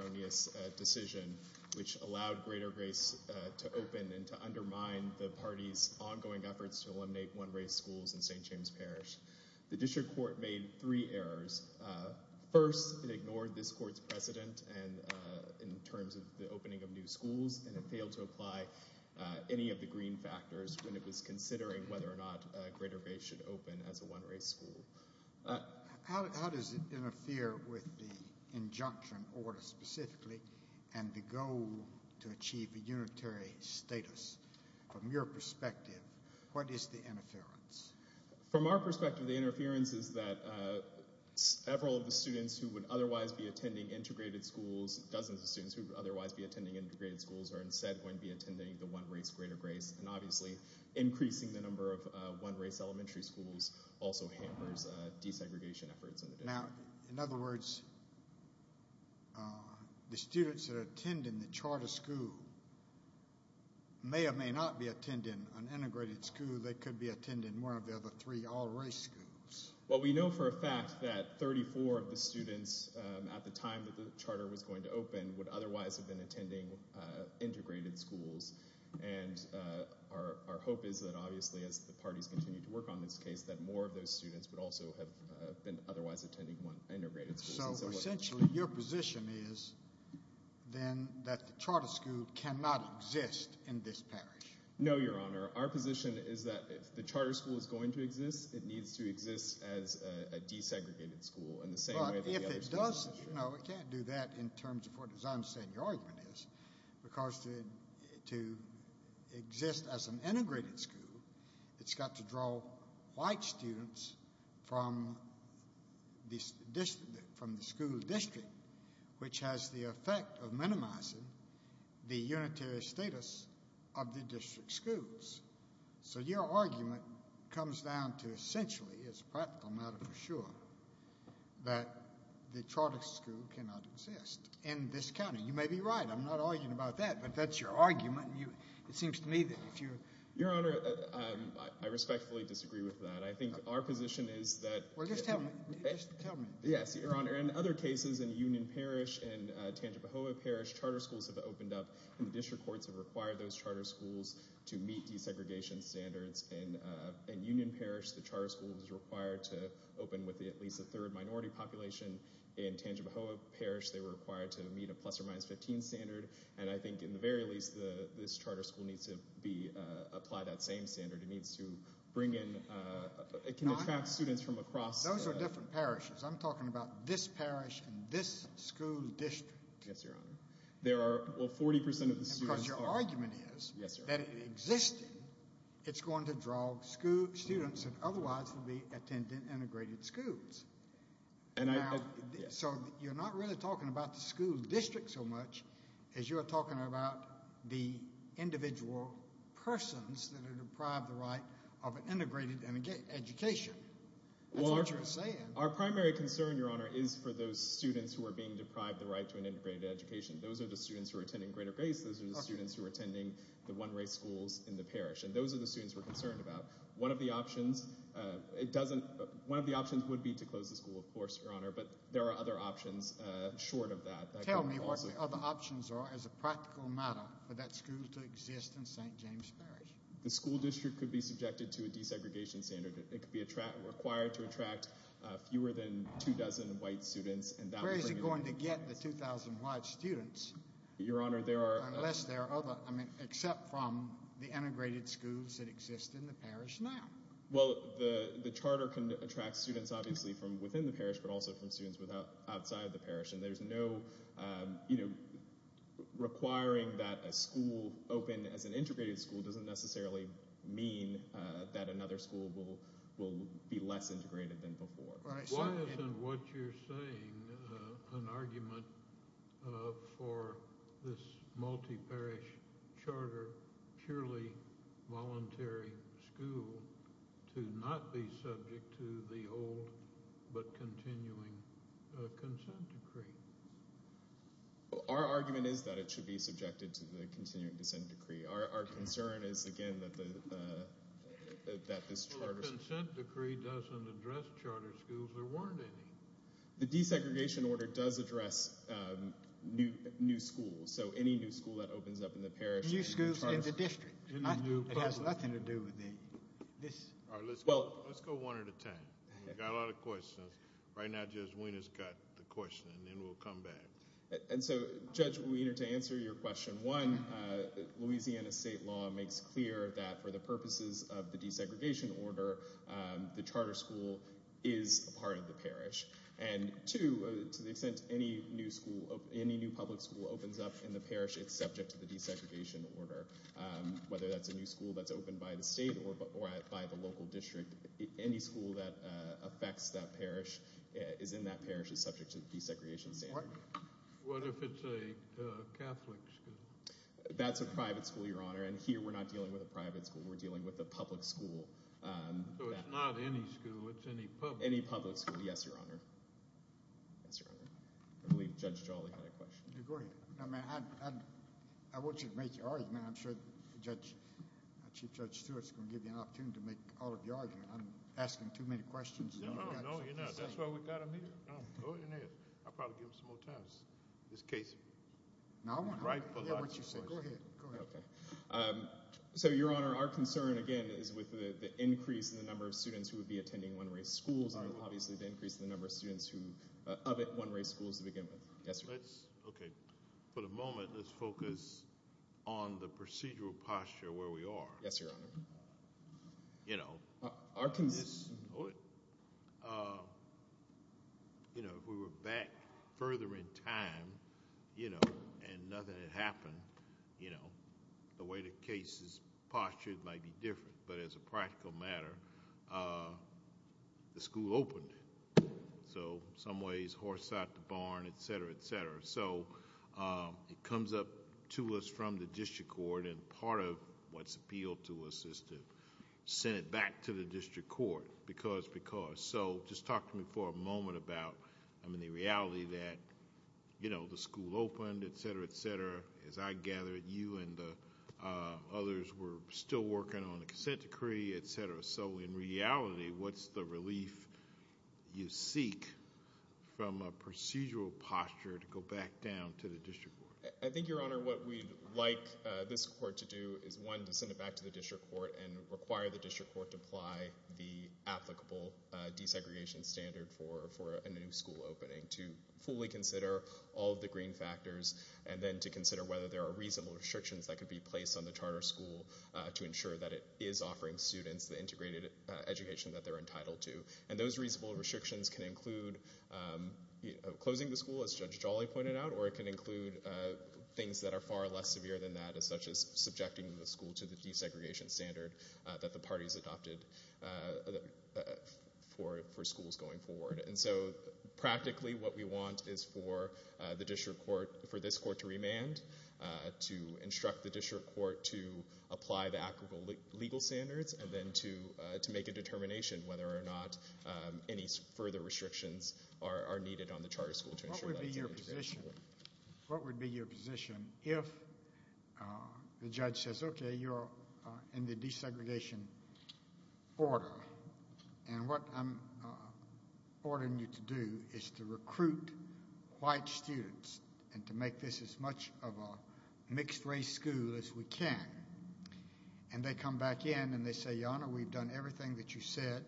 Arronius decision which allowed Greater Grace to open and to undermine the party's ongoing efforts to eliminate one-race schools in St. James Parish. The district court made three errors. First, it ignored this court's precedent in terms of the opening of new schools and it failed to apply any of the green factors when it was considering whether or not Greater Grace should open as a one-race school. How does it interfere with the injunction order specifically and the goal to achieve a unitary status? From your perspective, what is the interference? From our perspective, the interference is that several of the students who would otherwise be attending integrated schools, dozens of students who would otherwise be attending integrated schools are instead going to be attending the one-race Greater Grace and obviously increasing the number of one-race elementary schools also hampers desegregation efforts in the district. Now, in other words, the students that attend in the charter school may or may not be attending an integrated school. They could be attending one of the other three all-race schools. Well, we know for a fact that 34 of the students at the time that the charter was going to So, essentially, your position is then that the charter school cannot exist in this parish? No, Your Honor. Our position is that if the charter school is going to exist, it needs to exist as a desegregated school in the same way that the other schools do. But if it does, no, it can't do that in terms of what, as I understand your argument is, because to exist as an integrated school, it's got to draw white students from the school district, which has the effect of minimizing the unitary status of the district schools. So your argument comes down to essentially, it's a practical matter for sure, that the charter school cannot exist in this county. You may be right. I'm not arguing about that. But that's your argument. It seems to me that if you Your Honor, I respectfully disagree with that. I think our position is that Well, just tell me, just tell me. Yes, Your Honor. In other cases, in Union Parish and Tangipahoa Parish, charter schools have opened up, and the district courts have required those charter schools to meet desegregation standards. And in Union Parish, the charter school was required to open with at least a third minority population. In Tangipahoa Parish, they were required to meet a plus or minus 15 standard. And I think in the very least, this charter school needs to apply that same standard. It needs to bring in, it can attract students from across Those are different parishes. I'm talking about this parish and this school district. Yes, Your Honor. There are, well, 40% of the students Because your argument is that if it existed, it's going to draw students that otherwise would be attending integrated schools. And I, so you're not really talking about the school district so much as you're talking about the individual persons that are deprived the right of an integrated education. Well, that's what you're saying. Our primary concern, Your Honor, is for those students who are being deprived the right to an integrated education. Those are the students who are attending Greater Grace, those are the students who are attending the one race schools in the parish, and those are the students we're concerned about. One of the options, it doesn't, one of the options would be to close the school, of course, Your Honor, but there are other options short of that. Tell me what the other options are as a practical matter for that school to exist in St. James Parish. The school district could be subjected to a desegregation standard. It could be required to attract fewer than two dozen white students. Where is it going to get the 2,000 white students? Your Honor, there are, Unless there are other, I mean, except from the integrated schools that exist in the parish now. Well, the charter can attract students, obviously, from within the parish, but also from students outside the parish, and there's no, you know, requiring that a school open as an integrated school doesn't necessarily mean that another school will be less integrated than before. Why isn't what you're saying an argument for this multi-parish charter, purely voluntary school to not be subject to the old but continuing consent decree? Our argument is that it should be subjected to the continuing consent decree. Our concern is, again, that this charter, Well, a consent decree doesn't address charter schools. There weren't any. The desegregation order does address new schools, so any new school that opens up in the parish. New schools in the district. It has nothing to do with this. All right, let's go one at a time. We've got a lot of questions. Right now, Judge Wiener's got the question, and then we'll come back. And so, Judge Wiener, to answer your question, one, Louisiana state law makes clear that for the purposes of the desegregation order, the charter school is a part of the parish. And, two, to the extent any new school, any new public school opens up in the parish, it's subject to the desegregation order. Whether that's a new school that's opened by the state or by the local district, any school that affects that parish, is in that parish, is subject to the desegregation standard. What if it's a Catholic school? That's a private school, Your Honor. And here, we're not dealing with a private school. We're dealing with a public school. So it's not any school. It's any public school. Any public school. Yes, Your Honor. Yes, Your Honor. I believe Judge Jolly had a question. Go ahead. I want you to make your argument. I'm sure Chief Judge Stewart's going to give you an opportunity to make all of your arguments. I'm asking too many questions. No, no, you're not. That's why we've got them here. No, go ahead and ask. I'll probably give them some more time. This case is ripe for lots of questions. No, I want to hear what you say. Go ahead. Go ahead. Okay. So, Your Honor, our concern, again, is with the increase in the number of students who would be attending one-race schools and, obviously, the increase in the number of students of one-race schools to begin with. Yes, Your Honor. Okay. For the moment, let's focus on the procedural posture where we are. Yes, Your Honor. You know, we were back further in time, you know, and nothing had happened, you know. The way the case is postured might be different, but as a practical matter, the school opened. So, in some ways, horse out the barn, et cetera, et cetera. So, it comes up to us from the district court, and part of what's appealed to us is to send it back to the district court, because, because. So, just talk to me for a moment about, I mean, the reality that, you know, the school opened, et cetera, et cetera. As I gather, you and the others were still working on the consent decree, et cetera. So, in reality, what's the relief you seek from a procedural posture to go back down to the district court? I think, Your Honor, what we'd like this court to do is, one, to send it back to the district court and require the district court to apply the applicable desegregation standard for a new school opening, to fully consider all of the green factors, and then to consider whether there are reasonable restrictions that could be placed on the charter school to ensure that it is offering students the integrated education that they're entitled to. And those reasonable restrictions can include closing the school, as Judge Jolly pointed out, or it can include things that are far less severe than that, such as subjecting the school to the desegregation standard that the parties adopted for schools going forward. And so, practically, what we want is for the district court, for this court to remand, to instruct the district court to apply the applicable legal standards, and then to make a determination whether or not any further restrictions are needed on the charter school to ensure that it's integrated. What would be your position, what would be your position if the judge says, okay, you're in the desegregation order, and what I'm ordering you to do is to recruit white students and to make this as much of a mixed-race school as we can. And they come back in and they say, Your Honor, we've done everything that you said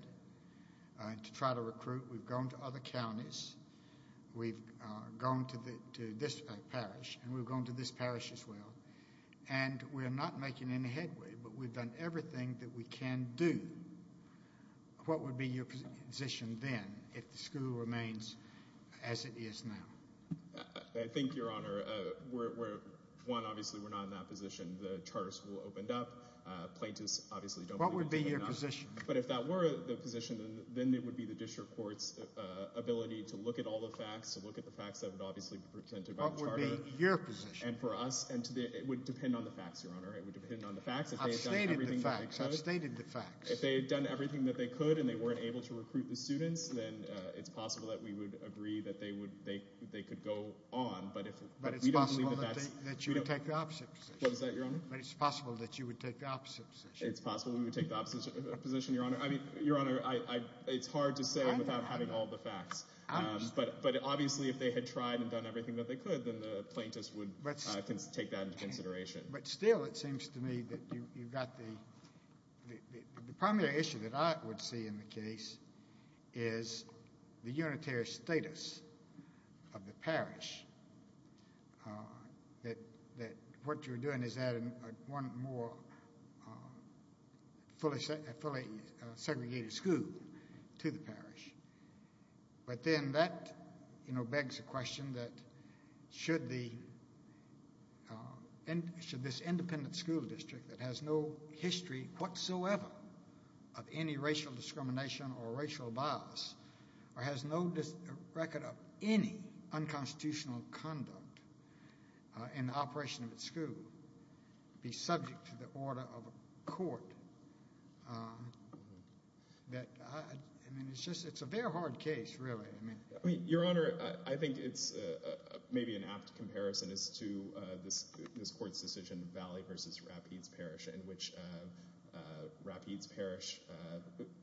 to try to recruit. We've gone to other counties. We've gone to this parish, and we've gone to this parish as well. And we're not making any headway, but we've done everything that we can do. What would be your position then, if the school remains as it is now? I think, Your Honor, one, obviously, we're not in that position. The charter school opened up. Plaintiffs obviously don't want to open it up. What would be your position? But if that were the position, then it would be the district court's ability to look at all the facts, to look at the facts that would obviously be presented by the charter. What would be your position? And for us, it would depend on the facts, Your Honor. It would depend on the facts, if they had done everything that was included. Outstate the facts. If they had done everything that they could and they weren't able to recruit the students, then it's possible that we would agree that they could go on, but if we don't... But it's possible that you would take the opposite position. What is that, Your Honor? But it's possible that you would take the opposite position. It's possible we would take the opposite position, Your Honor. I mean, Your Honor, I, it's hard to say without having all the facts. But obviously, if they had tried and done everything that they could, then the plaintiffs would take that into consideration. But still, it seems to me that you've got the... The primary issue that I would see in the case is the unitary status of the parish. That what you're doing is adding one more fully segregated school to the parish. But then that, you know, begs the question that should the... Should this independent school district that has no history whatsoever of any racial discrimination or racial bias, or has no record of any unconstitutional conduct in the operation of its school, be subject to the order of a court? That, I mean, it's just, it's a very hard case, really. I mean... I mean, Your Honor, I think it's maybe an apt comparison as to this court's decision, Valley v. Rapides Parish, in which Rapides Parish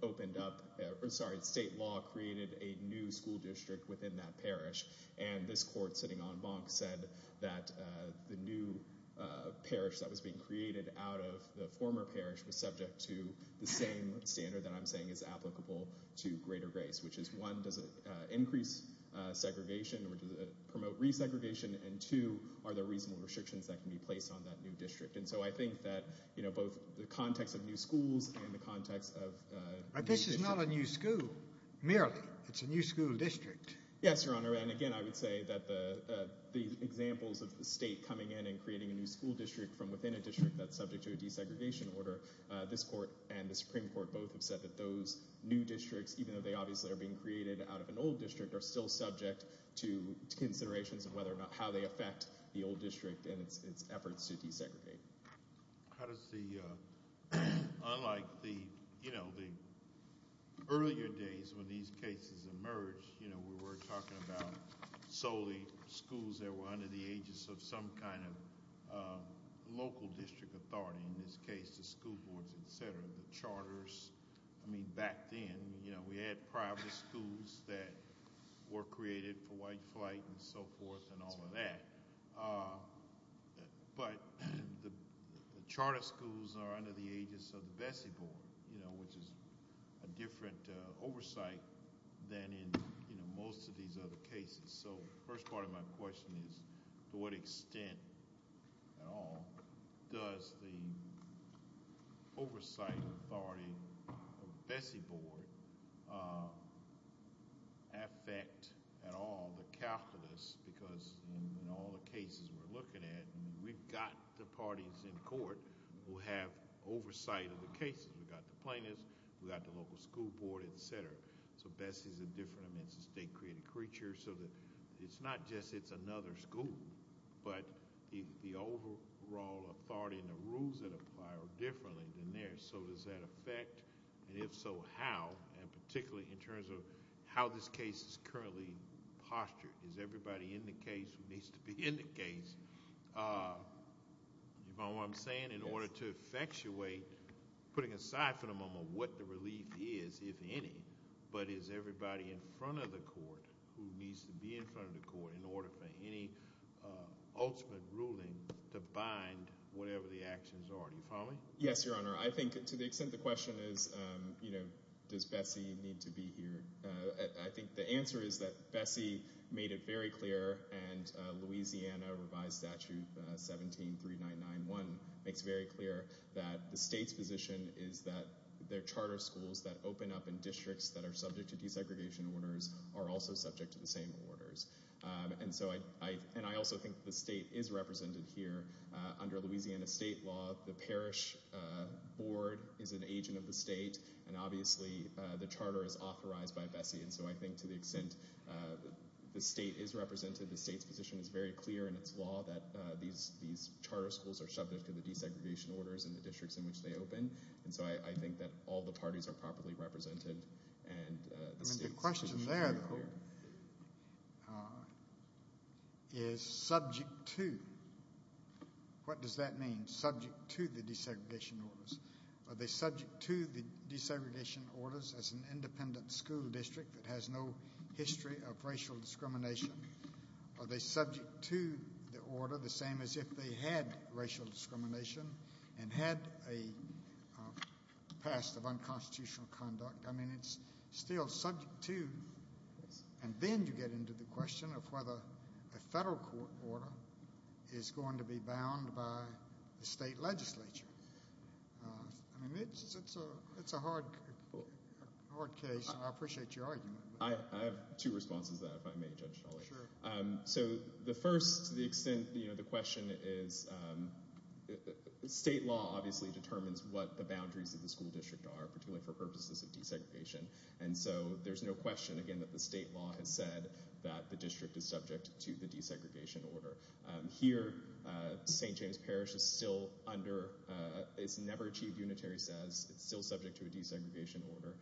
opened up... Sorry, state law created a new school district within that parish. And this court sitting en banc said that the new parish that was being created out of the former parish was subject to the same standard that I'm saying is applicable to Greater Grace, which is one, does it increase segregation or does it promote resegregation? And two, are there reasonable restrictions that can be placed on that new district? And so I think that, you know, both the context of new schools and the context of... Rapides is not a new school, merely. It's a new school district. Yes, Your Honor, and again, I would say that the examples of the state coming in and creating a new school district from within a district that's subject to a desegregation order, this court and the Supreme Court both have said that those new districts, even though they obviously are being created out of an old district, are still subject to considerations of whether or not... how they affect the old district and its efforts to desegregate. How does the... unlike the, you know, the earlier days when these cases emerged, you know, we were talking about solely schools that were under the aegis of some kind of local district authority. In this case, the school boards, et cetera, the charters. I mean, back then, you know, we had private schools that were created for white flight and so forth and all of that. But, the charter schools are under the aegis of the Bessie Board, you know, which is a different oversight than in, you know, most of these other cases. So, the first part of my question is, to what extent at all does the oversight authority of the Bessie Board affect at all the calculus? Because, in all the cases we're looking at, we've got the parties in court who have oversight of the cases. We've got the plaintiffs, we've got the local school board, et cetera. So, Bessie's a different, I mean, it's a state created creature. So, it's not just it's another school, but the overall authority and the rules that apply are differently than theirs. So, does that affect, and if so, how? And particularly in terms of how this case is currently postured. Is everybody in the case who needs to be in the case? You follow what I'm saying? In order to effectuate, putting aside for the moment what the relief is, if any, but is everybody in front of the court who needs to be in front of the court in order for any ultimate ruling to bind whatever the actions are? Do you follow me? Yes, Your Honor. I think to the extent the question is, you know, does Bessie need to be here? I think the answer is that Bessie made it very clear, and Louisiana revised statute 17-3991 makes very clear that the state's position is that their charter schools that open up in districts that are subject to desegregation orders are also subject to the same orders. And I also think the state is represented here under Louisiana state law. The parish board is an agent of the state. And obviously the charter is authorized by Bessie, and so I think to the extent the state is represented, the state's position is very clear in its law that these charter schools are subject to the desegregation orders in the districts in which they open. And so I think that all the parties are properly represented and the state's position is very clear. The question there, though, is subject to. What does that mean, subject to the desegregation orders? Are they subject to the desegregation orders as an independent school district that has no history of racial discrimination? Are they subject to the order the same as if they had racial discrimination and had a past of unconstitutional conduct? I mean, it's still subject to. And then you get into the question of whether a federal court order is going to be bound by the state legislature. I mean, it's a hard case. I appreciate your argument. I have two responses to that, if I may, Judge Shawley. So the first, to the extent, you know, the question is state law obviously determines what the boundaries of the school district are, particularly for purposes of desegregation. And so there's no question, again, that the state law has said that the district is subject to the desegregation order here. St. James Parish is still under its never achieved unitary says it's still subject to a desegregation order.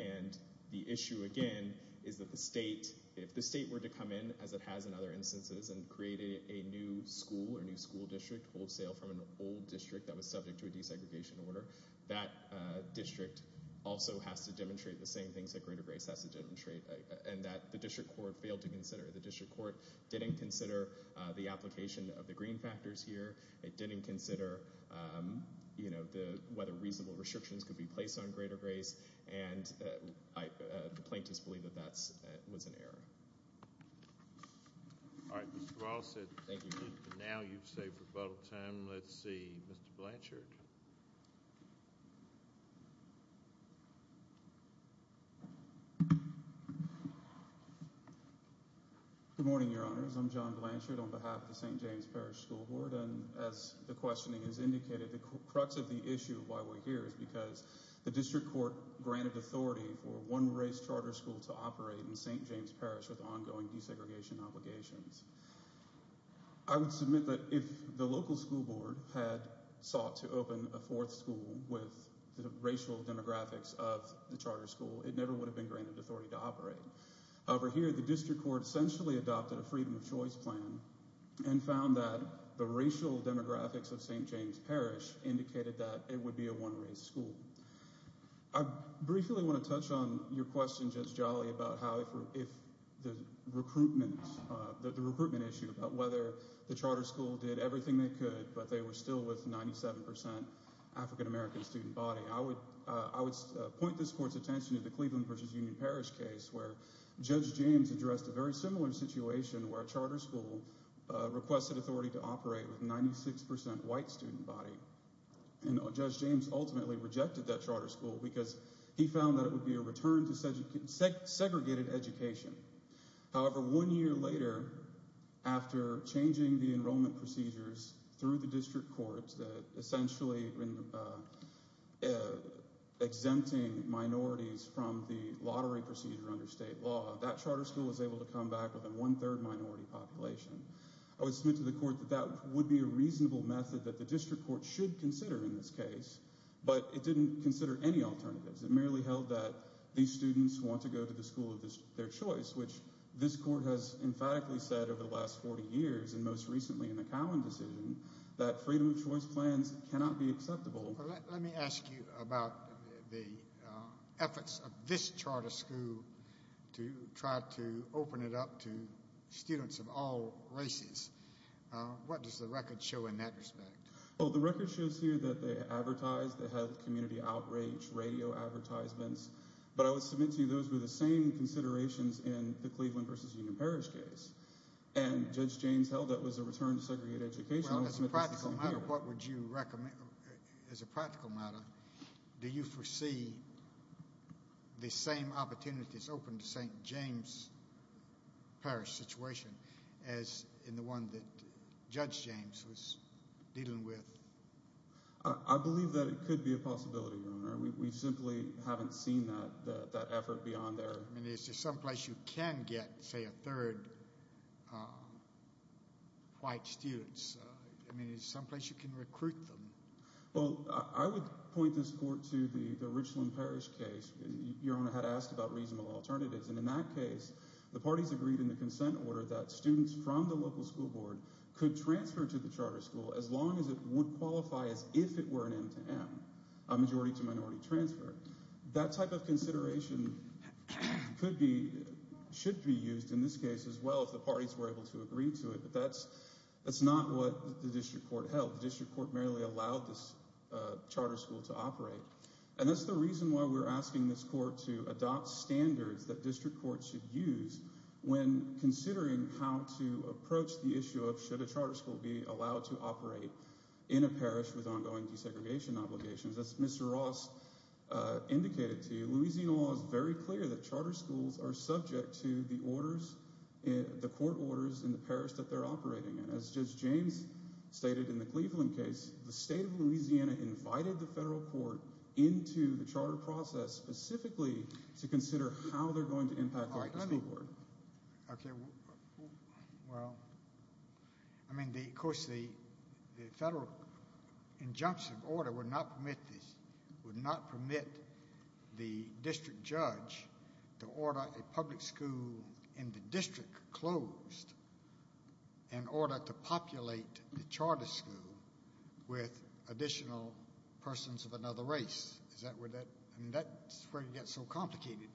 And the issue, again, is that the state, if the state were to come in, as it has in other instances, and created a new school or new school district wholesale from an old district that was subject to a desegregation order, that district also has to demonstrate the same things that Greater Grace has to demonstrate, and that the district court failed to consider. The district court didn't consider the application of the green factors here. It didn't consider, you know, whether reasonable restrictions could be placed on Greater Grace. And the plaintiffs believe that that was an error. All right. Mr. Walsh, now you've saved a lot of time. Let's see. Mr. Blanchard. Good morning, Your Honors. I'm John Blanchard on behalf of the St. James Parish School Board. And as the questioning has indicated, the crux of the issue of why we're here is because the district court granted authority for one race charter school to operate in St. James Parish with ongoing desegregation obligations. I would submit that if the local school board had sought to open a fourth school with the racial demographics of the charter school, it never would have been granted authority to operate. Over here, the district court essentially adopted a freedom of choice plan and found that the racial demographics of St. James Parish indicated that it would be a one race school. I briefly want to touch on your question, Judge Jolly, about how if the recruitment, the recruitment issue, about whether the charter school did everything they could, but they were still with 97 percent African-American student body. I would point this court's attention to the Cleveland versus Union Parish case, where Judge James addressed a very similar situation where a charter school requested authority to operate with 96 percent white student body. And Judge James ultimately rejected that charter school because he found that it would be a return to segregated education. However, one year later, after changing the enrollment procedures through the district courts, essentially exempting minorities from the lottery procedure under state law, that charter school was able to come back with a one third minority population. I would submit to the court that that would be a reasonable method that the district court should consider in this case, but it didn't consider any alternatives. It merely held that these students want to go to the school of their choice, which this court has emphatically said over the last 40 years, and most recently in the Cowan decision, that freedom of choice plans cannot be acceptable. Let me ask you about the efforts of this charter school to try to open it up to students of all races. What does the record show in that respect? Well, the record shows here that they advertised, they had community outrage, radio advertisements, but I would submit to you those were the same considerations in the Cleveland versus Union Parish case, and Judge James held that was a return to segregated education. As a practical matter, what would you recommend? As a practical matter, do you foresee the same opportunities open to St. James Parish situation as in the one that Judge James was dealing with? I believe that it could be a possibility, Your Honor. We simply haven't seen that effort beyond there. I mean, is there someplace you can get, say, a third white student? I mean, is there someplace you can recruit them? Well, I would point this court to the Richland Parish case. Your Honor had asked about reasonable alternatives, and in that case, the parties agreed in the consent order that students from the local school board could transfer to the charter school as long as it would qualify as if it were an M-to-M, a majority to minority transfer. That type of consideration could be, should be used in this case as well if the parties were able to agree to it, but that's not what the district court held. The district court merely allowed this charter school to operate, and that's the reason why we're asking this court to adopt standards that district courts should use when considering how to approach the issue of should a charter school be allowed to operate in a parish with ongoing desegregation obligations. As Mr. Ross indicated to you, Louisiana law is very clear that charter schools are subject to the orders, the court orders in the parish that they're operating in. As Judge James stated in the Cleveland case, the state of Louisiana invited the federal court into the charter process specifically to consider how they're going to impact the district court. Okay. Well, I mean, of course, the federal injunction of order would not permit this, would not permit the district judge to order a public school in the district closed in order to populate the charter school with additional persons of another race. Is that where that, I mean, that's where it gets so complicated.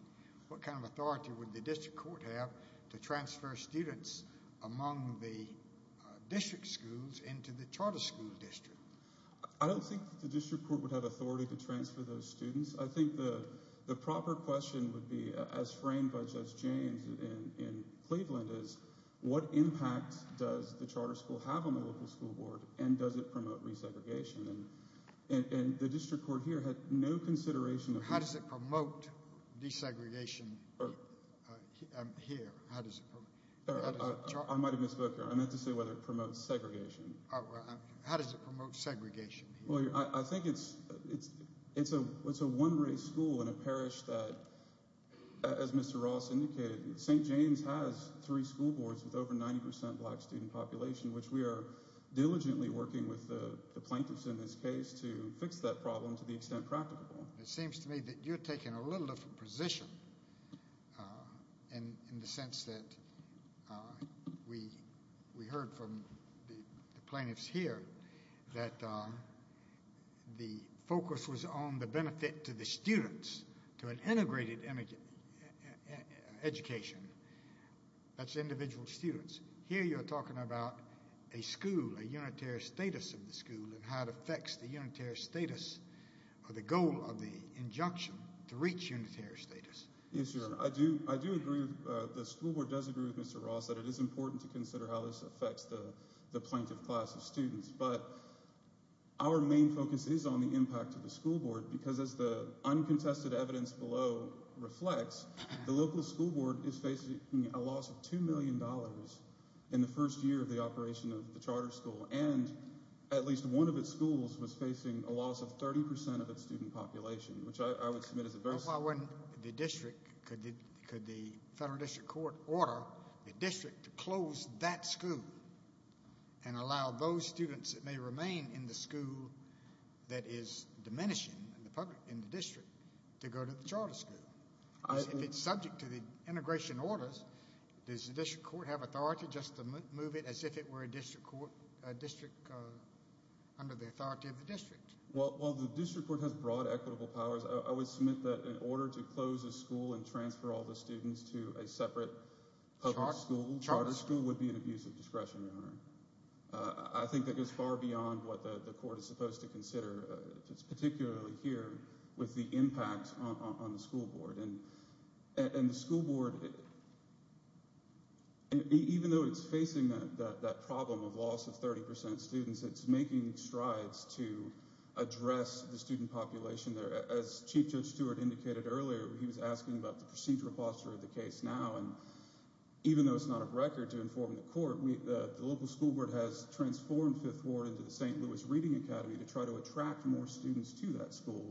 What kind of authority would the district court have to transfer students among the district schools into the charter school district? I don't think the district court would have authority to transfer those students. I think the proper question would be, as framed by Judge James in Cleveland, is what impact does the charter school have on the local school board, and does it promote resegregation? And the district court here had no consideration of that. How does it promote desegregation here? I might have misspoke here. I meant to say whether it promotes segregation. How does it promote segregation? Well, I think it's a one-race school in a parish that, as Mr. Ross indicated, St. James has three school boards with over 90% black student population, which we are diligently working with the plaintiffs in this case to fix that problem to the extent practicable. It seems to me that you're taking a little different position in the sense that we heard from the plaintiffs here that the focus was on the benefit to the students, to an integrated education. That's individual students. Here you're talking about a school, a unitary status of the school, and how it affects the unitary status or the goal of the injunction to reach unitary status. Yes, Your Honor. I do agree. The school board does agree with Mr. Ross that it is important to consider how this affects the plaintiff class of students. But our main focus is on the impact to the school board because, as the uncontested evidence below reflects, the local school board is facing a loss of $2 million in the first year of the operation of the charter school and at least one of its schools was facing a loss of 30% of its student population, which I would submit is a very small loss. Why wouldn't the district, could the federal district court order the district to close that school and allow those students that may remain in the school that is diminishing in the district to go to the charter school? If it's subject to the integration orders, does the district court have authority just to move it as if it were a district court, a district under the authority of the district? Well, the district court has broad equitable powers. I would submit that in order to close a school and transfer all the students to a separate public school, charter school would be an abuse of discretion, Your Honor. I think that goes far beyond what the court is supposed to consider, particularly here with the impact on the school board. And the school board, even though it's facing that problem of loss of 30% of students, it's making strides to address the student population there. As Chief Judge Stewart indicated earlier, he was asking about the procedural posture of the case now, and even though it's not a record to inform the court, the local school board has transformed Fifth Ward into the St. Louis Reading Academy to try to attract more students to that school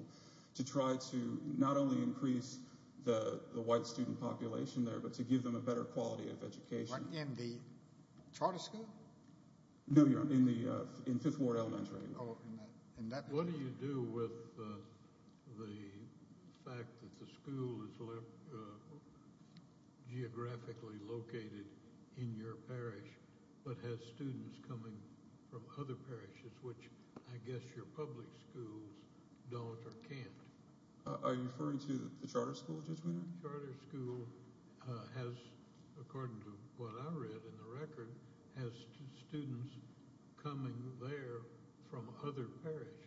to try to not only increase the white student population there, but to give them a better quality of education. In the charter school? No, Your Honor, in Fifth Ward Elementary. What do you do with the fact that the school is geographically located in your parish but has students coming from other parishes, which I guess your public schools don't or can't? Are you referring to the charter school, Judge Weiner? The charter school has, according to what I read in the record, has students coming there from other parishes.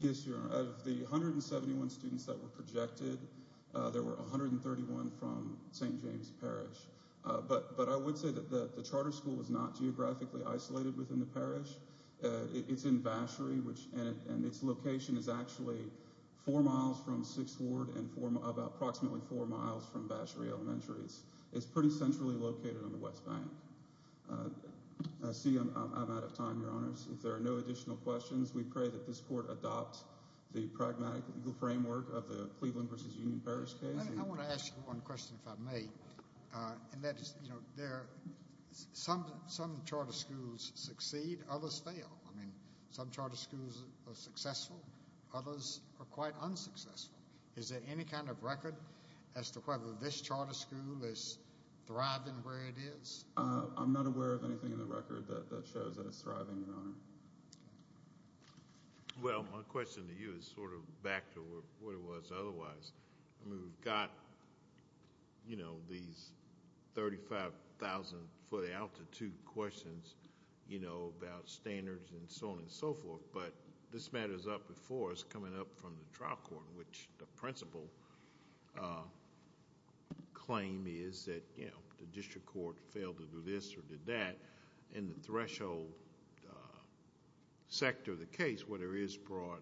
Yes, Your Honor. Of the 171 students that were projected, there were 131 from St. James Parish. But I would say that the charter school is not geographically isolated within the parish. It's in Vachery, and its location is actually four miles from Sixth Ward and approximately four miles from Vachery Elementary. It's pretty centrally located on the West Bank. I see I'm out of time, Your Honors. If there are no additional questions, we pray that this court adopts the pragmatic legal framework of the Cleveland v. Union Parish case. I want to ask you one question, if I may. Some charter schools succeed, others fail. Some charter schools are successful, others are quite unsuccessful. Is there any kind of record as to whether this charter school is thriving where it is? I'm not aware of anything in the record that shows that it's thriving, Your Honor. Well, my question to you is sort of back to what it was otherwise. We've got these 35,000-foot altitude questions about standards and so on and so forth, but this matter is up before us coming up from the trial court, which the principal claim is that the district court failed to do this or did that. In the threshold sector of the case, where there is broad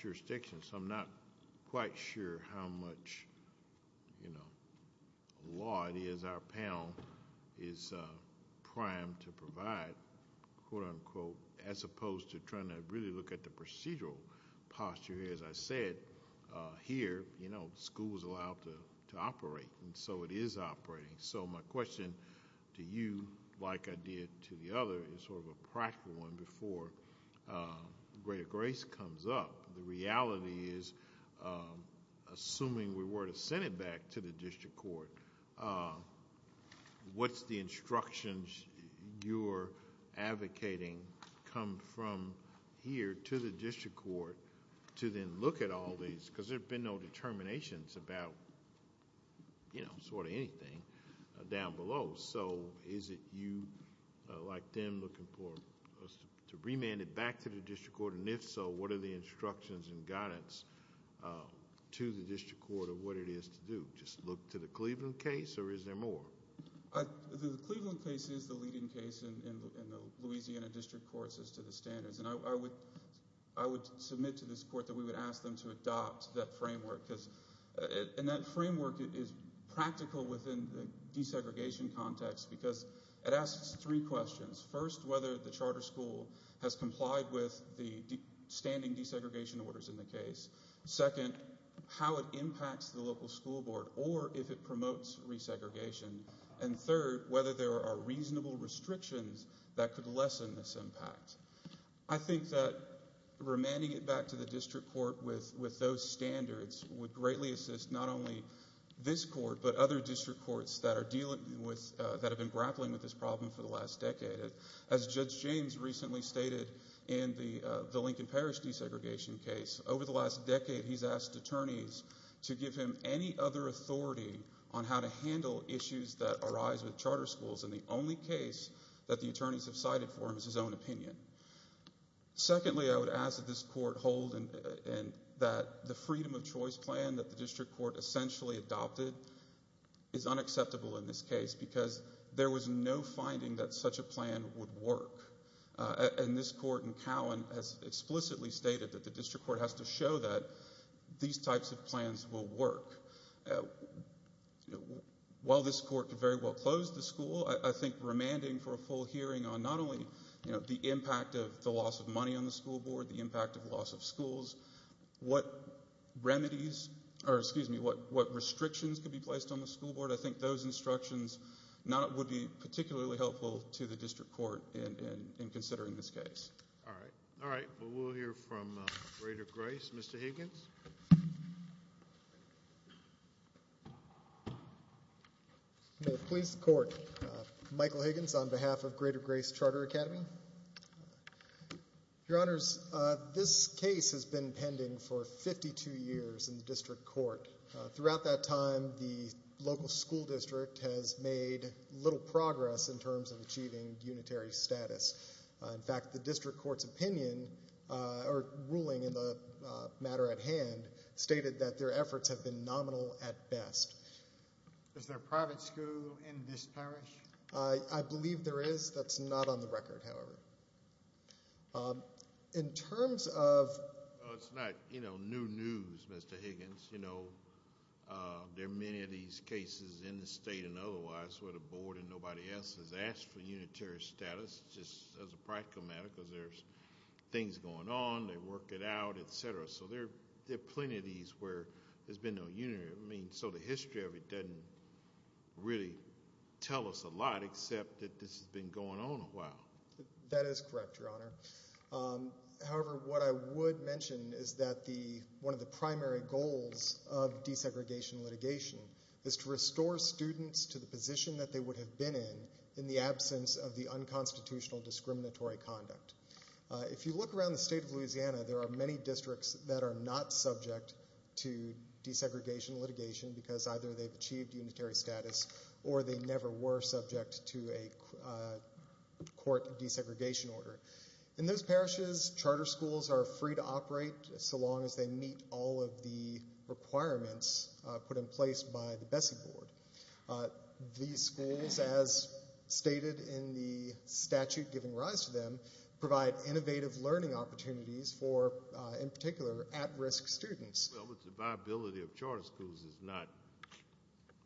jurisdiction, so I'm not quite sure how much law it is our panel is primed to provide, quote-unquote, as opposed to trying to really look at the procedural posture. As I said, here school is allowed to operate, and so it is operating. So my question to you, like I did to the other, is sort of a practical one before greater grace comes up. The reality is, assuming we were to send it back to the district court, what's the instructions you're advocating come from here to the district court to then look at all these? Because there have been no determinations about sort of anything down below. Is it you, like them, looking for us to remand it back to the district court? If so, what are the instructions and guidance to the district court of what it is to do? Just look to the Cleveland case, or is there more? The Cleveland case is the leading case in the Louisiana district courts as to the standards, and I would submit to this court that we would ask them to adopt that framework. That framework is practical within the desegregation context because it asks three questions. First, whether the charter school has complied with the standing desegregation orders in the case. Second, how it impacts the local school board or if it promotes resegregation. And third, whether there are reasonable restrictions that could lessen this impact. I think that remanding it back to the district court with those standards would greatly assist not only this court, but other district courts that have been grappling with this problem for the last decade. As Judge James recently stated in the Lincoln Parish desegregation case, over the last decade he's asked attorneys to give him any other authority on how to handle issues that arise with charter schools, and the only case that the attorneys have cited for him is his own opinion. Secondly, I would ask that this court hold that the freedom of choice plan that the district court essentially adopted is unacceptable in this case because there was no finding that such a plan would work. And this court in Cowan has explicitly stated that the district court has to show that these types of plans will work. While this court could very well close the school, I think remanding for a full hearing on not only the impact of the loss of money on the school board, the impact of loss of schools, what restrictions could be placed on the school board, I think those instructions would be particularly helpful to the district court in considering this case. All right. We'll hear from Greater Grace. Mr. Higgins? May it please the court. Michael Higgins on behalf of Greater Grace Charter Academy. Your Honors, this case has been pending for 52 years in the district court. Throughout that time, the local school district has made little progress in terms of achieving unitary status. In fact, the district court's opinion or ruling in the matter at hand stated that their efforts have been nominal at best. Is there a private school in this parish? I believe there is. That's not on the record, however. In terms of- It's not, you know, new news, Mr. Higgins. You know, there are many of these cases in the state and otherwise where the board and nobody else has asked for unitary status. That's just as a practical matter because there's things going on, they work it out, et cetera. So there are plenty of these where there's been no unitary. I mean, so the history of it doesn't really tell us a lot except that this has been going on a while. That is correct, Your Honor. However, what I would mention is that one of the primary goals of desegregation litigation is to restore students to the position that they would have been in, in the absence of the unconstitutional discriminatory conduct. If you look around the state of Louisiana, there are many districts that are not subject to desegregation litigation because either they've achieved unitary status or they never were subject to a court desegregation order. In those parishes, charter schools are free to operate so long as they meet all of the requirements put in place by the Bessie Board. These schools, as stated in the statute giving rise to them, provide innovative learning opportunities for, in particular, at-risk students. Well, it's the viability of charter schools is not,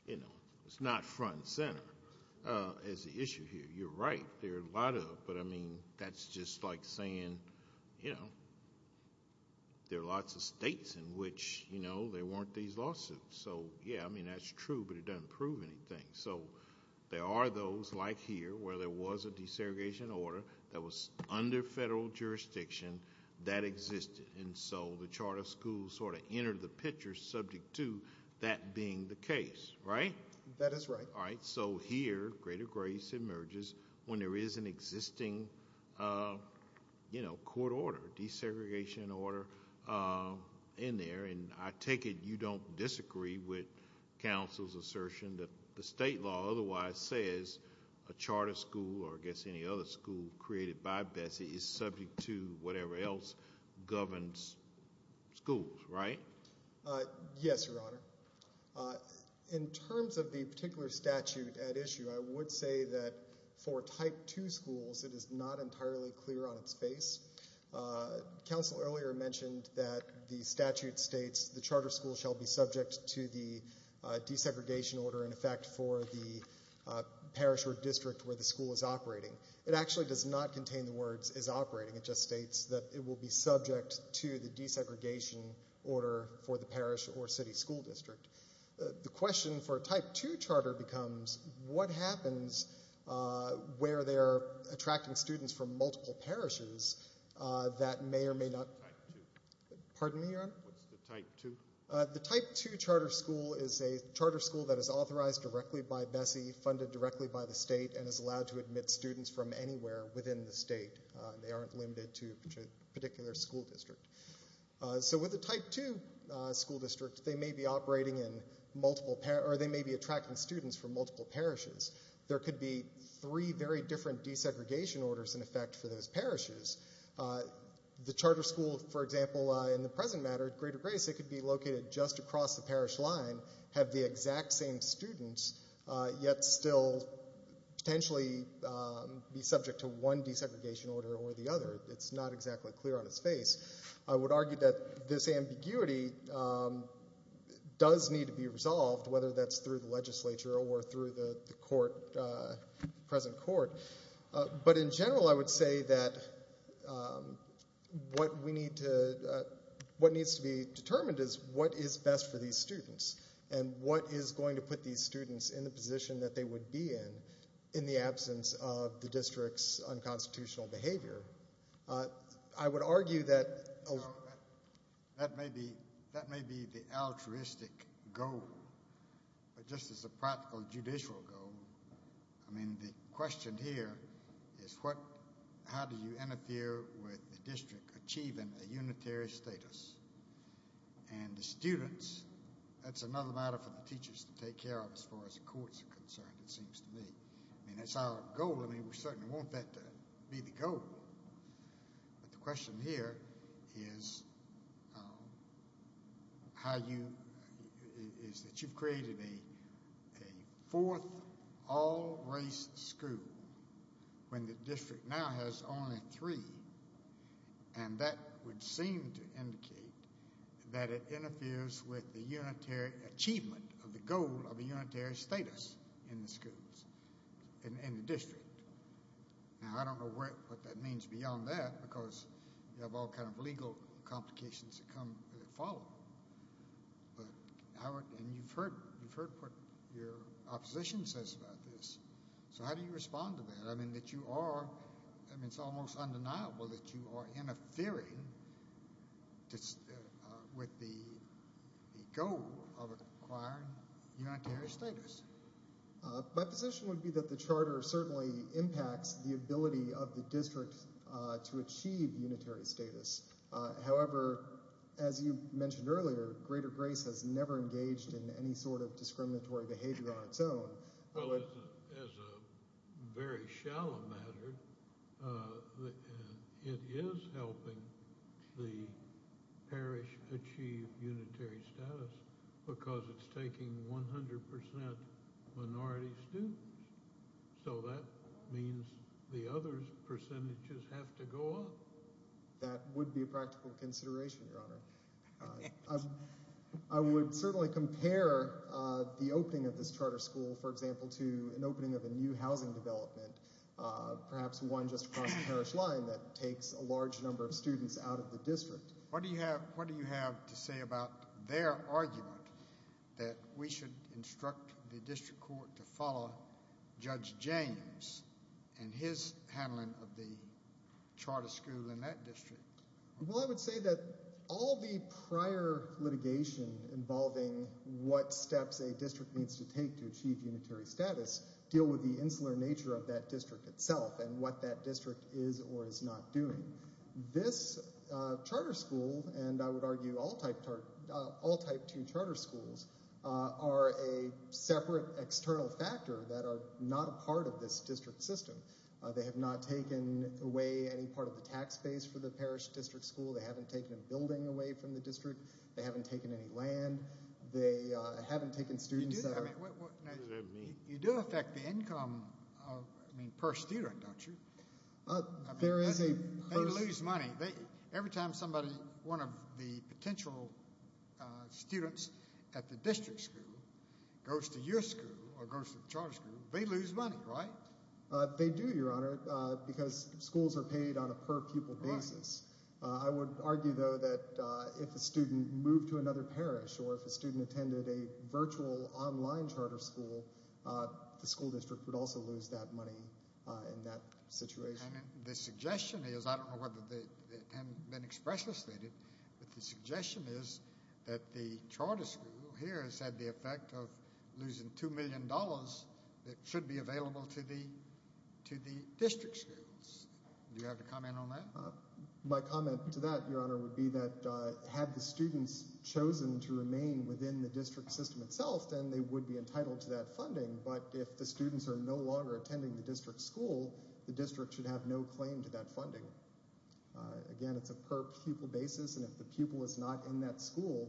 you know, it's not front and center as the issue here. You're right. There are a lot of, but I mean, that's just like saying, you know, there are lots of states in which, you know, there weren't these lawsuits. So, yeah, I mean, that's true, but it doesn't prove anything. So there are those like here where there was a desegregation order that was under federal jurisdiction that existed. And so the charter schools sort of entered the picture subject to that being the case, right? That is right. All right. So here, greater grace emerges when there is an existing, you know, court order, desegregation order in there. And I take it you don't disagree with counsel's assertion that the state law otherwise says a charter school or, I guess, any other school created by Bessie is subject to whatever else governs schools, right? Yes, Your Honor. In terms of the particular statute at issue, I would say that for Type 2 schools, it is not entirely clear on its face. Counsel earlier mentioned that the statute states the charter school shall be subject to the desegregation order, in effect, for the parish or district where the school is operating. It actually does not contain the words is operating. It just states that it will be subject to the desegregation order for the parish or city school district. The question for a Type 2 charter becomes what happens where they are attracting students from multiple parishes that may or may not? Type 2. Pardon me, Your Honor? What's the Type 2? The Type 2 charter school is a charter school that is authorized directly by Bessie, funded directly by the state, and is allowed to admit students from anywhere within the state. They aren't limited to a particular school district. So with a Type 2 school district, they may be operating in multiple parishes, or they may be attracting students from multiple parishes. There could be three very different desegregation orders, in effect, for those parishes. The charter school, for example, in the present matter at Greater Grace, it could be located just across the parish line, have the exact same students, yet still potentially be subject to one desegregation order or the other. It's not exactly clear on its face. I would argue that this ambiguity does need to be resolved, whether that's through the legislature or through the present court. But in general, I would say that what needs to be determined is what is best for these students and what is going to put these students in the position that they would be in, in the absence of the district's unconstitutional behavior. I would argue that a— That may be the altruistic goal, but just as a practical judicial goal, I mean, the question here is how do you interfere with the district achieving a unitary status? And the students, that's another matter for the teachers to take care of as far as the courts are concerned, it seems to me. I mean, that's our goal. I mean, we certainly want that to be the goal. But the question here is how you— is that you've created a fourth all-race school when the district now has only three. And that would seem to indicate that it interferes with the unitary achievement of the goal of a unitary status in the schools, in the district. Now, I don't know what that means beyond that because you have all kinds of legal complications that follow. And you've heard what your opposition says about this. So how do you respond to that? I mean, that you are—I mean, it's almost undeniable that you are interfering with the goal of acquiring unitary status. My position would be that the charter certainly impacts the ability of the district to achieve unitary status. However, as you mentioned earlier, Greater Grace has never engaged in any sort of discriminatory behavior on its own. Well, as a very shallow matter, it is helping the parish achieve unitary status because it's taking 100 percent minority students. So that means the other percentages have to go up. That would be a practical consideration, Your Honor. I would certainly compare the opening of this charter school, for example, to an opening of a new housing development, perhaps one just across the parish line that takes a large number of students out of the district. What do you have to say about their argument that we should instruct the district court to follow Judge James and his handling of the charter school in that district? Well, I would say that all the prior litigation involving what steps a district needs to take to achieve unitary status deal with the insular nature of that district itself and what that district is or is not doing. This charter school, and I would argue all type two charter schools, are a separate external factor that are not a part of this district system. They have not taken away any part of the tax base for the parish district school. They haven't taken a building away from the district. They haven't taken any land. They haven't taken students out. You do affect the income, I mean, per student, don't you? They lose money. Every time somebody, one of the potential students at the district school goes to your school or goes to the charter school, they lose money, right? They do, Your Honor, because schools are paid on a per-pupil basis. I would argue, though, that if a student moved to another parish or if a student attended a virtual online charter school, the school district would also lose that money in that situation. The suggestion is, I don't know whether it has been expressly stated, but the suggestion is that the charter school here has had the effect of losing $2 million that should be available to the district schools. Do you have a comment on that? My comment to that, Your Honor, would be that had the students chosen to remain within the district system itself, then they would be entitled to that funding. But if the students are no longer attending the district school, the district should have no claim to that funding. Again, it's a per-pupil basis, and if the pupil is not in that school,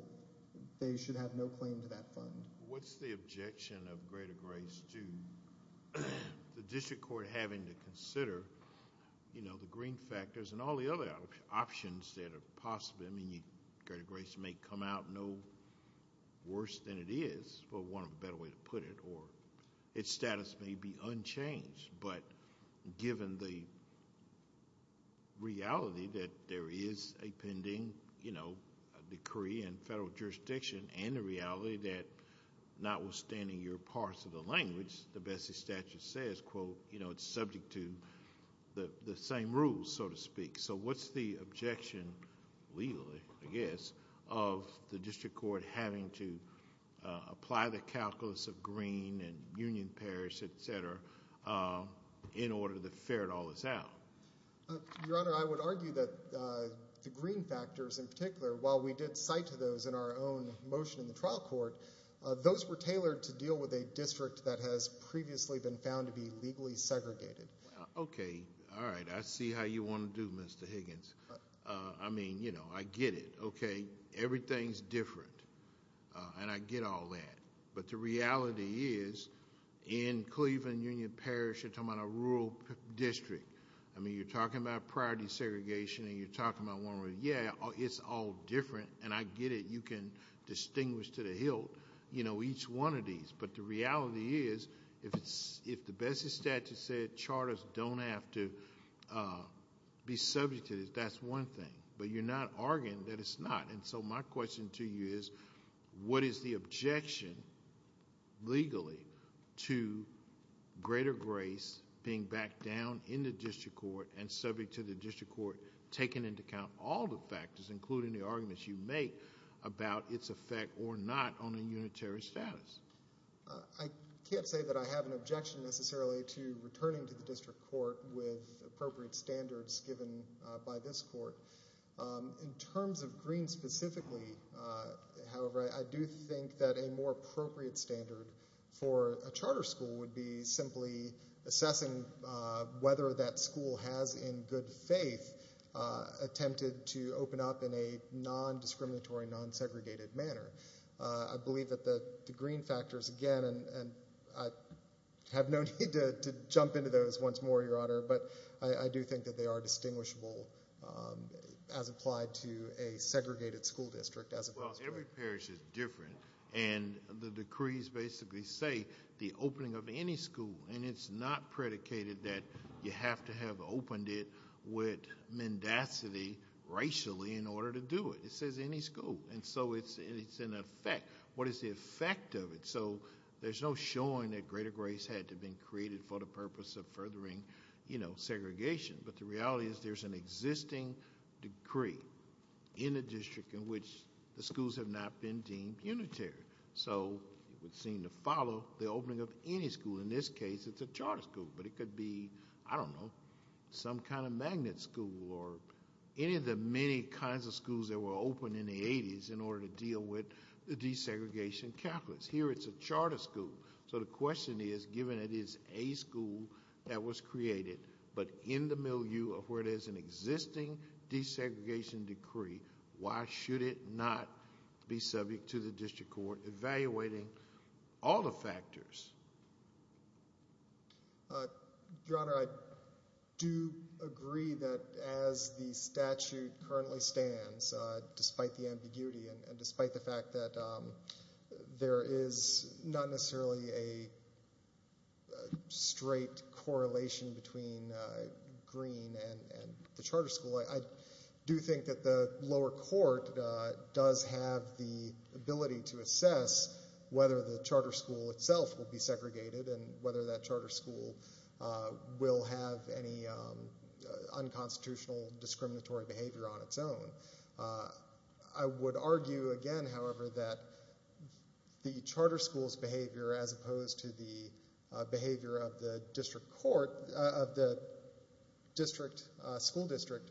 they should have no claim to that fund. What's the objection of Greater Grace to the district court having to consider the green factors and all the other options that are possible? I mean, Greater Grace may come out no worse than it is, for want of a better way to put it, or its status may be unchanged. But given the reality that there is a pending decree in federal jurisdiction, and the reality that notwithstanding your parts of the language, the Bessie statute says, quote, it's subject to the same rules, so to speak. So what's the objection, legally, I guess, of the district court having to apply the calculus of green and union pairs, et cetera, in order to ferret all this out? Your Honor, I would argue that the green factors in particular, while we did cite those in our own motion in the trial court, those were tailored to deal with a district that has previously been found to be legally segregated. Okay, all right, I see how you want to do, Mr. Higgins. I mean, you know, I get it. Okay, everything's different, and I get all that. But the reality is, in Cleveland Union Parish, you're talking about a rural district. I mean, you're talking about priority segregation, and you're talking about one where, yeah, it's all different, and I get it. You can distinguish to the hilt, you know, each one of these. But the reality is, if the best statute said charters don't have to be subjected, that's one thing. But you're not arguing that it's not, and so my question to you is, what is the objection, legally, to greater grace being backed down in the district court and subject to the district court taking into account all the factors, including the arguments you make about its effect or not on a unitary status? I can't say that I have an objection necessarily to returning to the district court with appropriate standards given by this court. In terms of Greene specifically, however, I do think that a more appropriate standard for a charter school would be simply assessing whether that school has, in good faith, attempted to open up in a non-discriminatory, non-segregated manner. I believe that the Greene factors, again, and I have no need to jump into those once more, Your Honor, but I do think that they are distinguishable as applied to a segregated school district. Well, every parish is different, and the decrees basically say the opening of any school, and it's not predicated that you have to have opened it with mendacity racially in order to do it. It says any school, and so it's in effect. What is the effect of it? So there's no showing that greater grace had to have been created for the purpose of furthering segregation, but the reality is there's an existing decree in a district in which the schools have not been deemed unitary, so it would seem to follow the opening of any school. In this case, it's a charter school, but it could be, I don't know, some kind of magnet school or any of the many kinds of schools that were opened in the 80s in order to deal with the desegregation calculus. Here it's a charter school, so the question is, given it is a school that was created, but in the milieu of where there's an existing desegregation decree, why should it not be subject to the district court evaluating all the factors? Your Honor, I do agree that as the statute currently stands, despite the ambiguity and despite the fact that there is not necessarily a straight correlation between Green and the charter school, I do think that the lower court does have the ability to assess whether the charter school itself will be segregated and whether that charter school will have any unconstitutional discriminatory behavior on its own. I would argue, again, however, that the charter school's behavior, as opposed to the behavior of the school district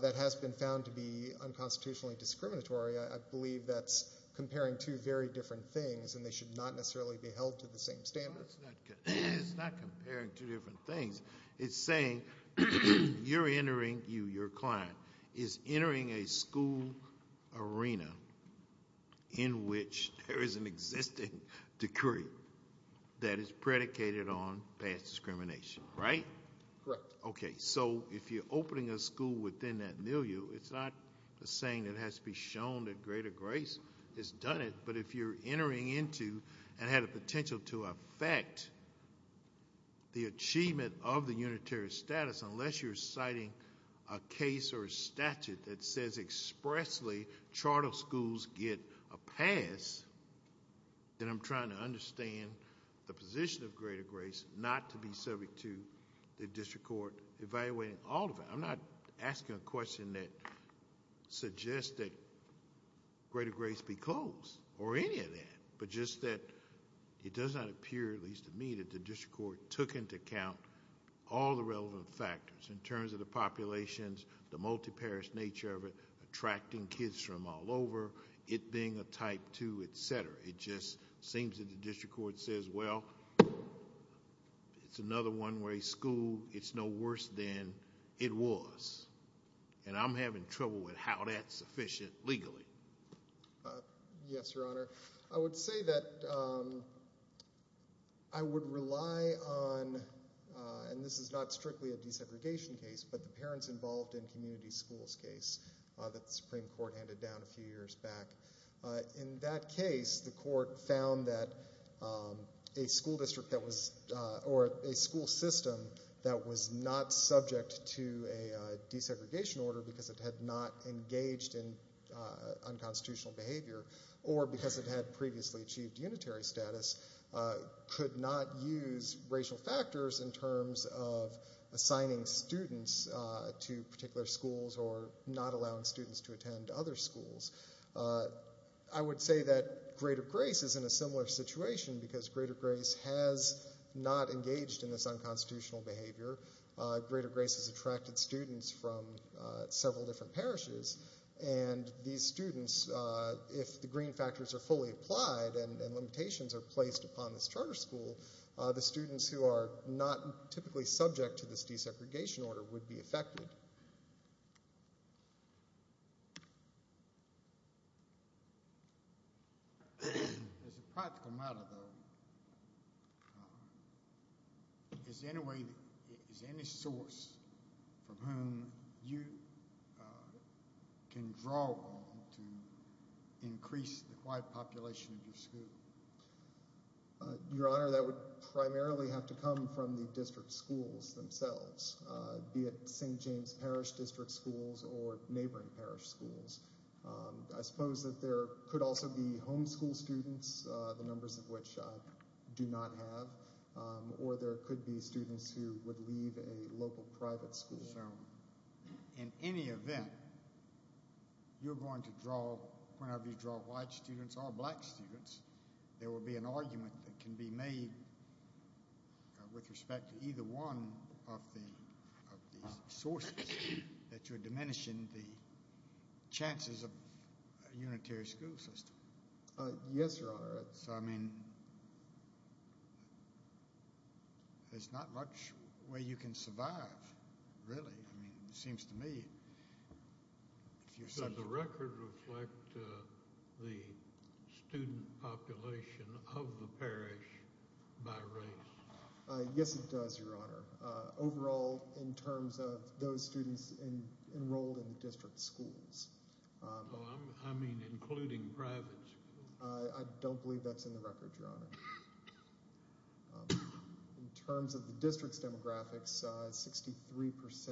that has been found to be unconstitutionally discriminatory, I believe that's comparing two very different things, and they should not necessarily be held to the same standard. It's not comparing two different things. It's saying you're entering, you, your client, is entering a school arena in which there is an existing decree that is predicated on past discrimination, right? Correct. Okay, so if you're opening a school within that milieu, it's not a saying that has to be shown that greater grace has done it, but if you're entering into and had a potential to affect the achievement of the unitary status, unless you're citing a case or a statute that says expressly charter schools get a pass, then I'm trying to understand the position of greater grace not to be subject to the district court evaluating all of it. I'm not asking a question that suggests that greater grace be closed or any of that, but just that it does not appear, at least to me, that the district court took into account all the relevant factors in terms of the populations, the multi-parish nature of it, attracting kids from all over, it being a type two, et cetera. It just seems that the district court says, well, it's another one-way school. It's no worse than it was, and I'm having trouble with how that's sufficient legally. Yes, Your Honor. I would say that I would rely on, and this is not strictly a desegregation case, but the parents involved in community schools case that the Supreme Court handed down a few years back. In that case, the court found that a school system that was not subject to a desegregation order because it had not engaged in unconstitutional behavior or because it had previously achieved unitary status could not use racial factors in terms of assigning students to particular schools or not allowing students to attend other schools. I would say that Greater Grace is in a similar situation because Greater Grace has not engaged in this unconstitutional behavior. Greater Grace has attracted students from several different parishes, and these students, if the green factors are fully applied and limitations are placed upon this charter school, the students who are not typically subject to this desegregation order would be affected. As a practical matter, though, is there any way, is there any source from whom you can draw on to increase the wide population of your school? Your Honor, that would primarily have to come from the district schools themselves, be it St. James Parish district schools or neighboring parish schools. I suppose that there could also be homeschool students, the numbers of which I do not have, or there could be students who would leave a local private school. In any event, you're going to draw, whenever you draw white students or black students, there will be an argument that can be made with respect to either one of these sources that you're diminishing the chances of a unitary school system. Yes, Your Honor. I mean, there's not much way you can survive, really. I mean, it seems to me, if you're such a... Does the record reflect the student population of the parish by race? Yes, it does, Your Honor. Overall, in terms of those students enrolled in the district schools. I mean, including private schools. I don't believe that's in the record, Your Honor. In terms of the district's demographics, 63%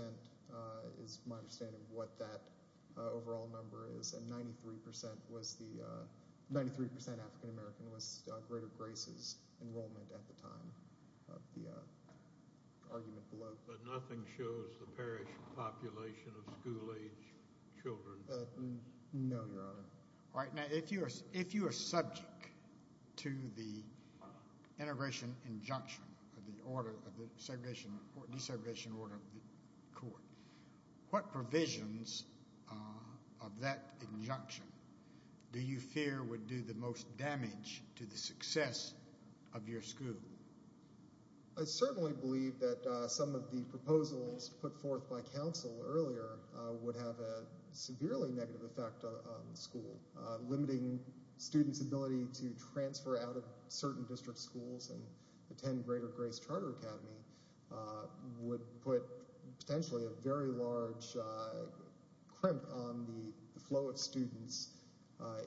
is my understanding of what that overall number is, and 93% African-American was greater graces enrollment at the time, the argument below. But nothing shows the parish population of school-age children? No, Your Honor. All right. Now, if you are subject to the integration injunction of the order of the desegregation order of the court, what provisions of that injunction do you fear would do the most damage to the success of your school? I certainly believe that some of the proposals put forth by counsel earlier would have a severely negative effect on the school, limiting students' ability to transfer out of certain district schools and attend greater grace charter academy would put potentially a very large crimp on the flow of students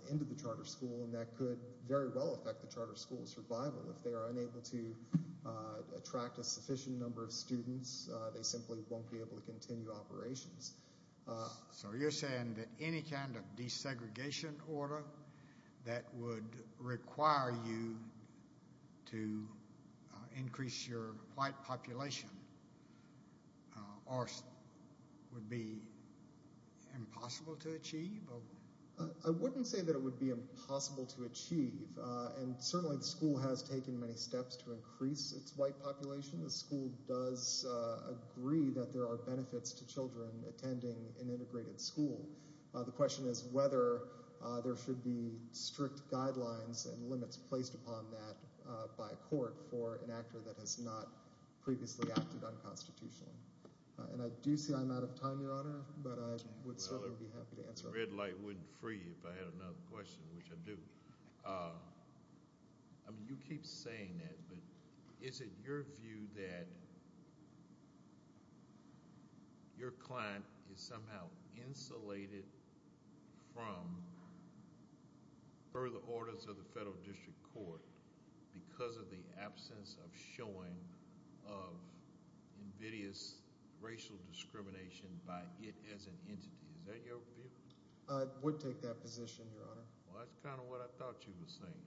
into the charter school, and that could very well affect the charter school's survival. If they are unable to attract a sufficient number of students, they simply won't be able to continue operations. So you're saying that any kind of desegregation order that would require you to increase your white population would be impossible to achieve? I wouldn't say that it would be impossible to achieve, and certainly the school has taken many steps to increase its white population. The school does agree that there are benefits to children attending an integrated school. The question is whether there should be strict guidelines and limits placed upon that by a court for an actor that has not previously acted unconstitutionally. And I do see I'm out of time, Your Honor, but I would certainly be happy to answer. The red light wouldn't free you if I had another question, which I do. You keep saying that, but is it your view that your client is somehow insulated from further orders of the federal district court because of the absence of showing of invidious racial discrimination by it as an entity? Is that your view? I would take that position, Your Honor. Well, that's kind of what I thought you were saying.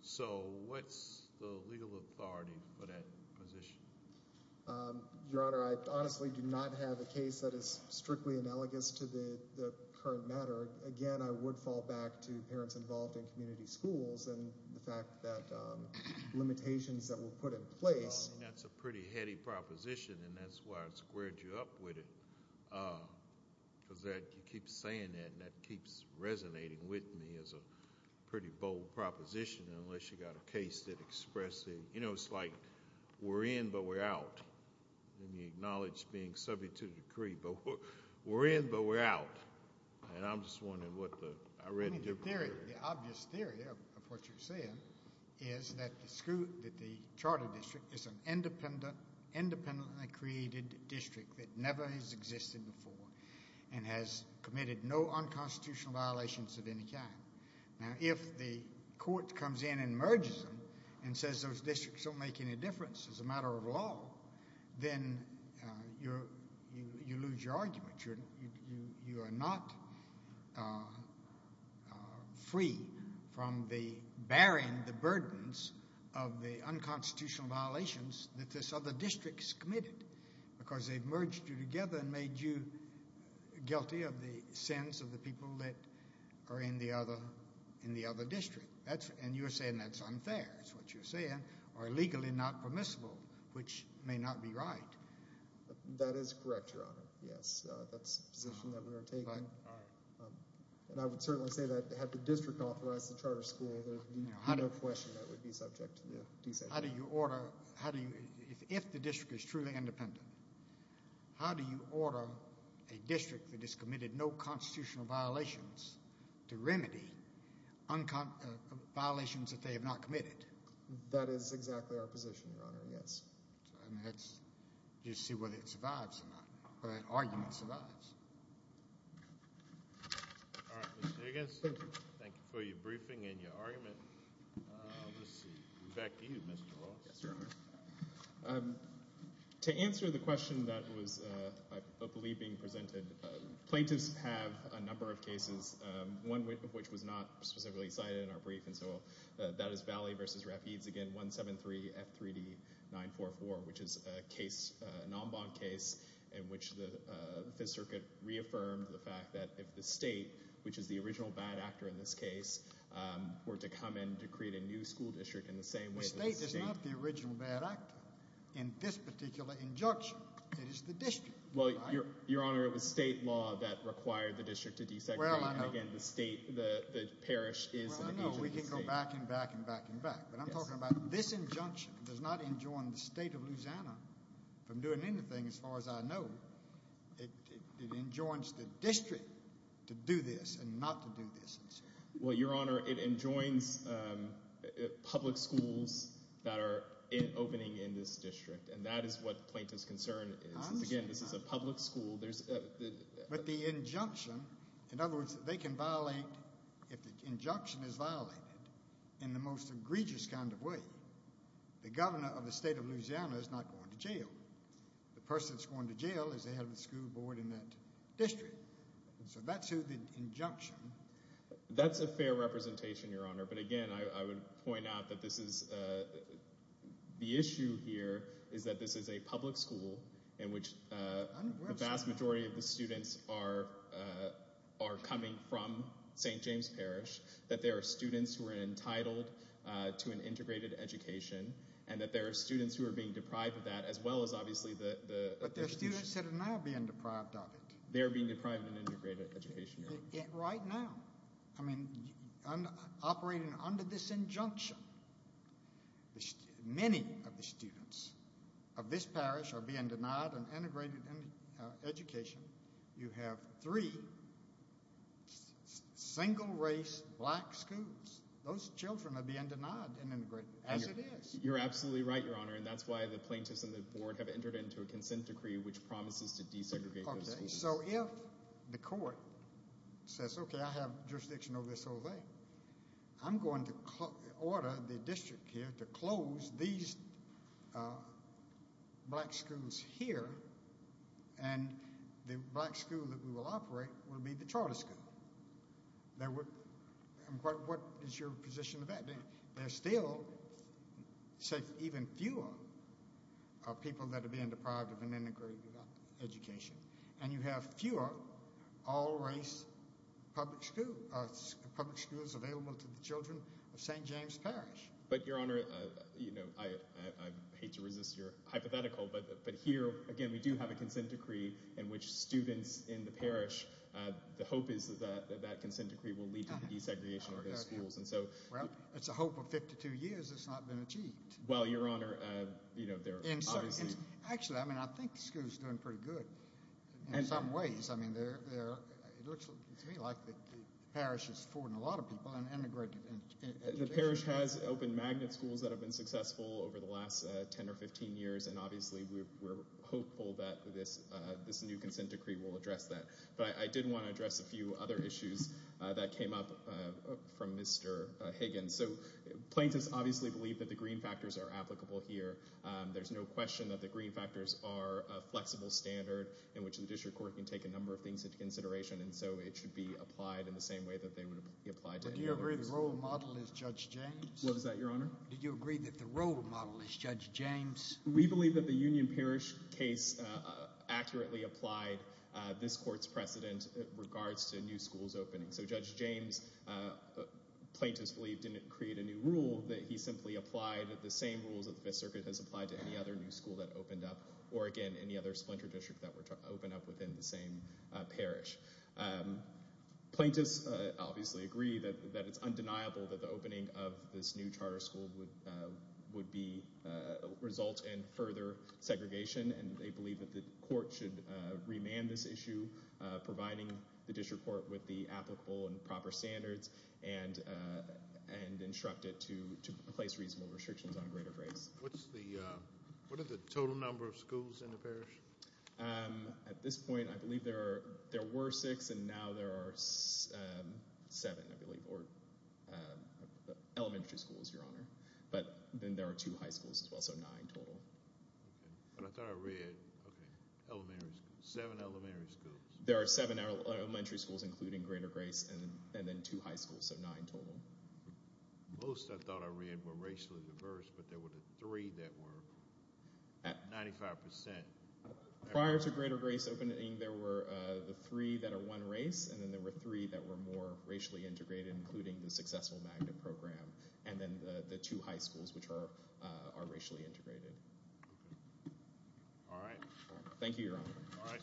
So what's the legal authority for that position? Your Honor, I honestly do not have a case that is strictly analogous to the current matter. Again, I would fall back to parents involved in community schools and the fact that limitations that were put in place. That's a pretty heady proposition, and that's why I squared you up with it. Because you keep saying that, and that keeps resonating with me as a pretty bold proposition, unless you've got a case that expresses, you know, it's like we're in but we're out. And you acknowledge being subject to the decree, but we're in but we're out. And I'm just wondering what the—I read it differently. The obvious theory of what you're saying is that the charter district is an independently created district that never has existed before and has committed no unconstitutional violations of any kind. Now, if the court comes in and merges them and says those districts don't make any difference as a matter of law, then you lose your argument. You are not free from bearing the burdens of the unconstitutional violations that this other district has committed because they've merged you together and made you guilty of the sins of the people that are in the other district. And you're saying that's unfair, is what you're saying, or legally not permissible, which may not be right. That is correct, Your Honor, yes. That's the position that we are taking. And I would certainly say that had the district authorized the charter school, there would be no question that would be subject to the decision. How do you order—if the district is truly independent, how do you order a district that has committed no constitutional violations to remedy violations that they have not committed? That is exactly our position, Your Honor, yes. You see whether it survives or not, whether an argument survives. All right, Mr. Higgins, thank you for your briefing and your argument. Back to you, Mr. Ross. To answer the question that was, I believe, being presented, plaintiffs have a number of cases, one of which was not specifically cited in our brief, and so that is Valley v. Rapides, again, 173 F3D 944, which is a case, an en banc case in which the Fifth Circuit reaffirmed the fact that if the state, which is the original bad actor in this case, were to come in to create a new school district in the same way— The state is not the original bad actor. In this particular injunction, it is the district. Well, Your Honor, it was state law that required the district to desegregate. Again, the state, the parish is the original state. We can go back and back and back and back, but I'm talking about this injunction. It does not enjoin the state of Louisiana from doing anything, as far as I know. It enjoins the district to do this and not to do this. Well, Your Honor, it enjoins public schools that are opening in this district, and that is what the plaintiff's concern is. Again, this is a public school. But the injunction—in other words, they can violate—if the injunction is violated in the most egregious kind of way, the governor of the state of Louisiana is not going to jail. The person that's going to jail is the head of the school board in that district. So that's who the injunction— That's a fair representation, Your Honor, but again, I would point out that this is— that the vast majority of the students are coming from St. James Parish, that there are students who are entitled to an integrated education, and that there are students who are being deprived of that, as well as obviously the— But there are students that are now being deprived of it. They are being deprived of an integrated education, Your Honor. Right now. I mean, operating under this injunction, many of the students of this parish are being denied an integrated education. You have three single-race black schools. Those children are being denied an integrated—as it is. You're absolutely right, Your Honor, and that's why the plaintiffs and the board have entered into a consent decree which promises to desegregate those schools. So if the court says, okay, I have jurisdiction over this whole thing, I'm going to order the district here to close these black schools here, and the black school that we will operate will be the charter school. What is your position of that? There are still, say, even fewer people that are being deprived of an integrated education, and you have fewer all-race public schools available to the children of St. James Parish. But, Your Honor, you know, I hate to resist your hypothetical, but here, again, we do have a consent decree in which students in the parish— the hope is that that consent decree will lead to the desegregation of those schools. Well, it's a hope of 52 years that's not been achieved. Well, Your Honor, you know, there are obviously— Actually, I mean, I think the school's doing pretty good in some ways. I mean, it looks to me like the parish is affording a lot of people an integrated education. The parish has opened magnet schools that have been successful over the last 10 or 15 years, and obviously we're hopeful that this new consent decree will address that. But I did want to address a few other issues that came up from Mr. Higgins. So plaintiffs obviously believe that the green factors are applicable here. There's no question that the green factors are a flexible standard in which the district court can take a number of things into consideration, and so it should be applied in the same way that they would be applied to any other case. But do you agree the role model is Judge James? What was that, Your Honor? Did you agree that the role model is Judge James? We believe that the Union Parish case accurately applied this court's precedent in regards to new schools opening. So Judge James, plaintiffs believe, didn't create a new rule. He simply applied the same rules that the Fifth Circuit has applied to any other new school that opened up or, again, any other splinter district that were to open up within the same parish. Plaintiffs obviously agree that it's undeniable that the opening of this new charter school would result in further segregation, and they believe that the court should remand this issue, providing the district court with the applicable and proper standards and instruct it to place reasonable restrictions on greater grace. What are the total number of schools in the parish? At this point, I believe there were six, and now there are seven, I believe, or elementary schools, Your Honor. But then there are two high schools as well, so nine total. But I thought I read, okay, elementary schools, seven elementary schools. There are seven elementary schools, including greater grace, and then two high schools, so nine total. Most, I thought I read, were racially diverse, but there were the three that were 95%. Prior to greater grace opening, there were the three that are one race, and then there were three that were more racially integrated, including the Successful Magnet Program, and then the two high schools, which are racially integrated. All right. Thank you, Your Honor. All right.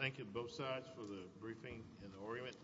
Thank you, both sides, for the briefing and the argument.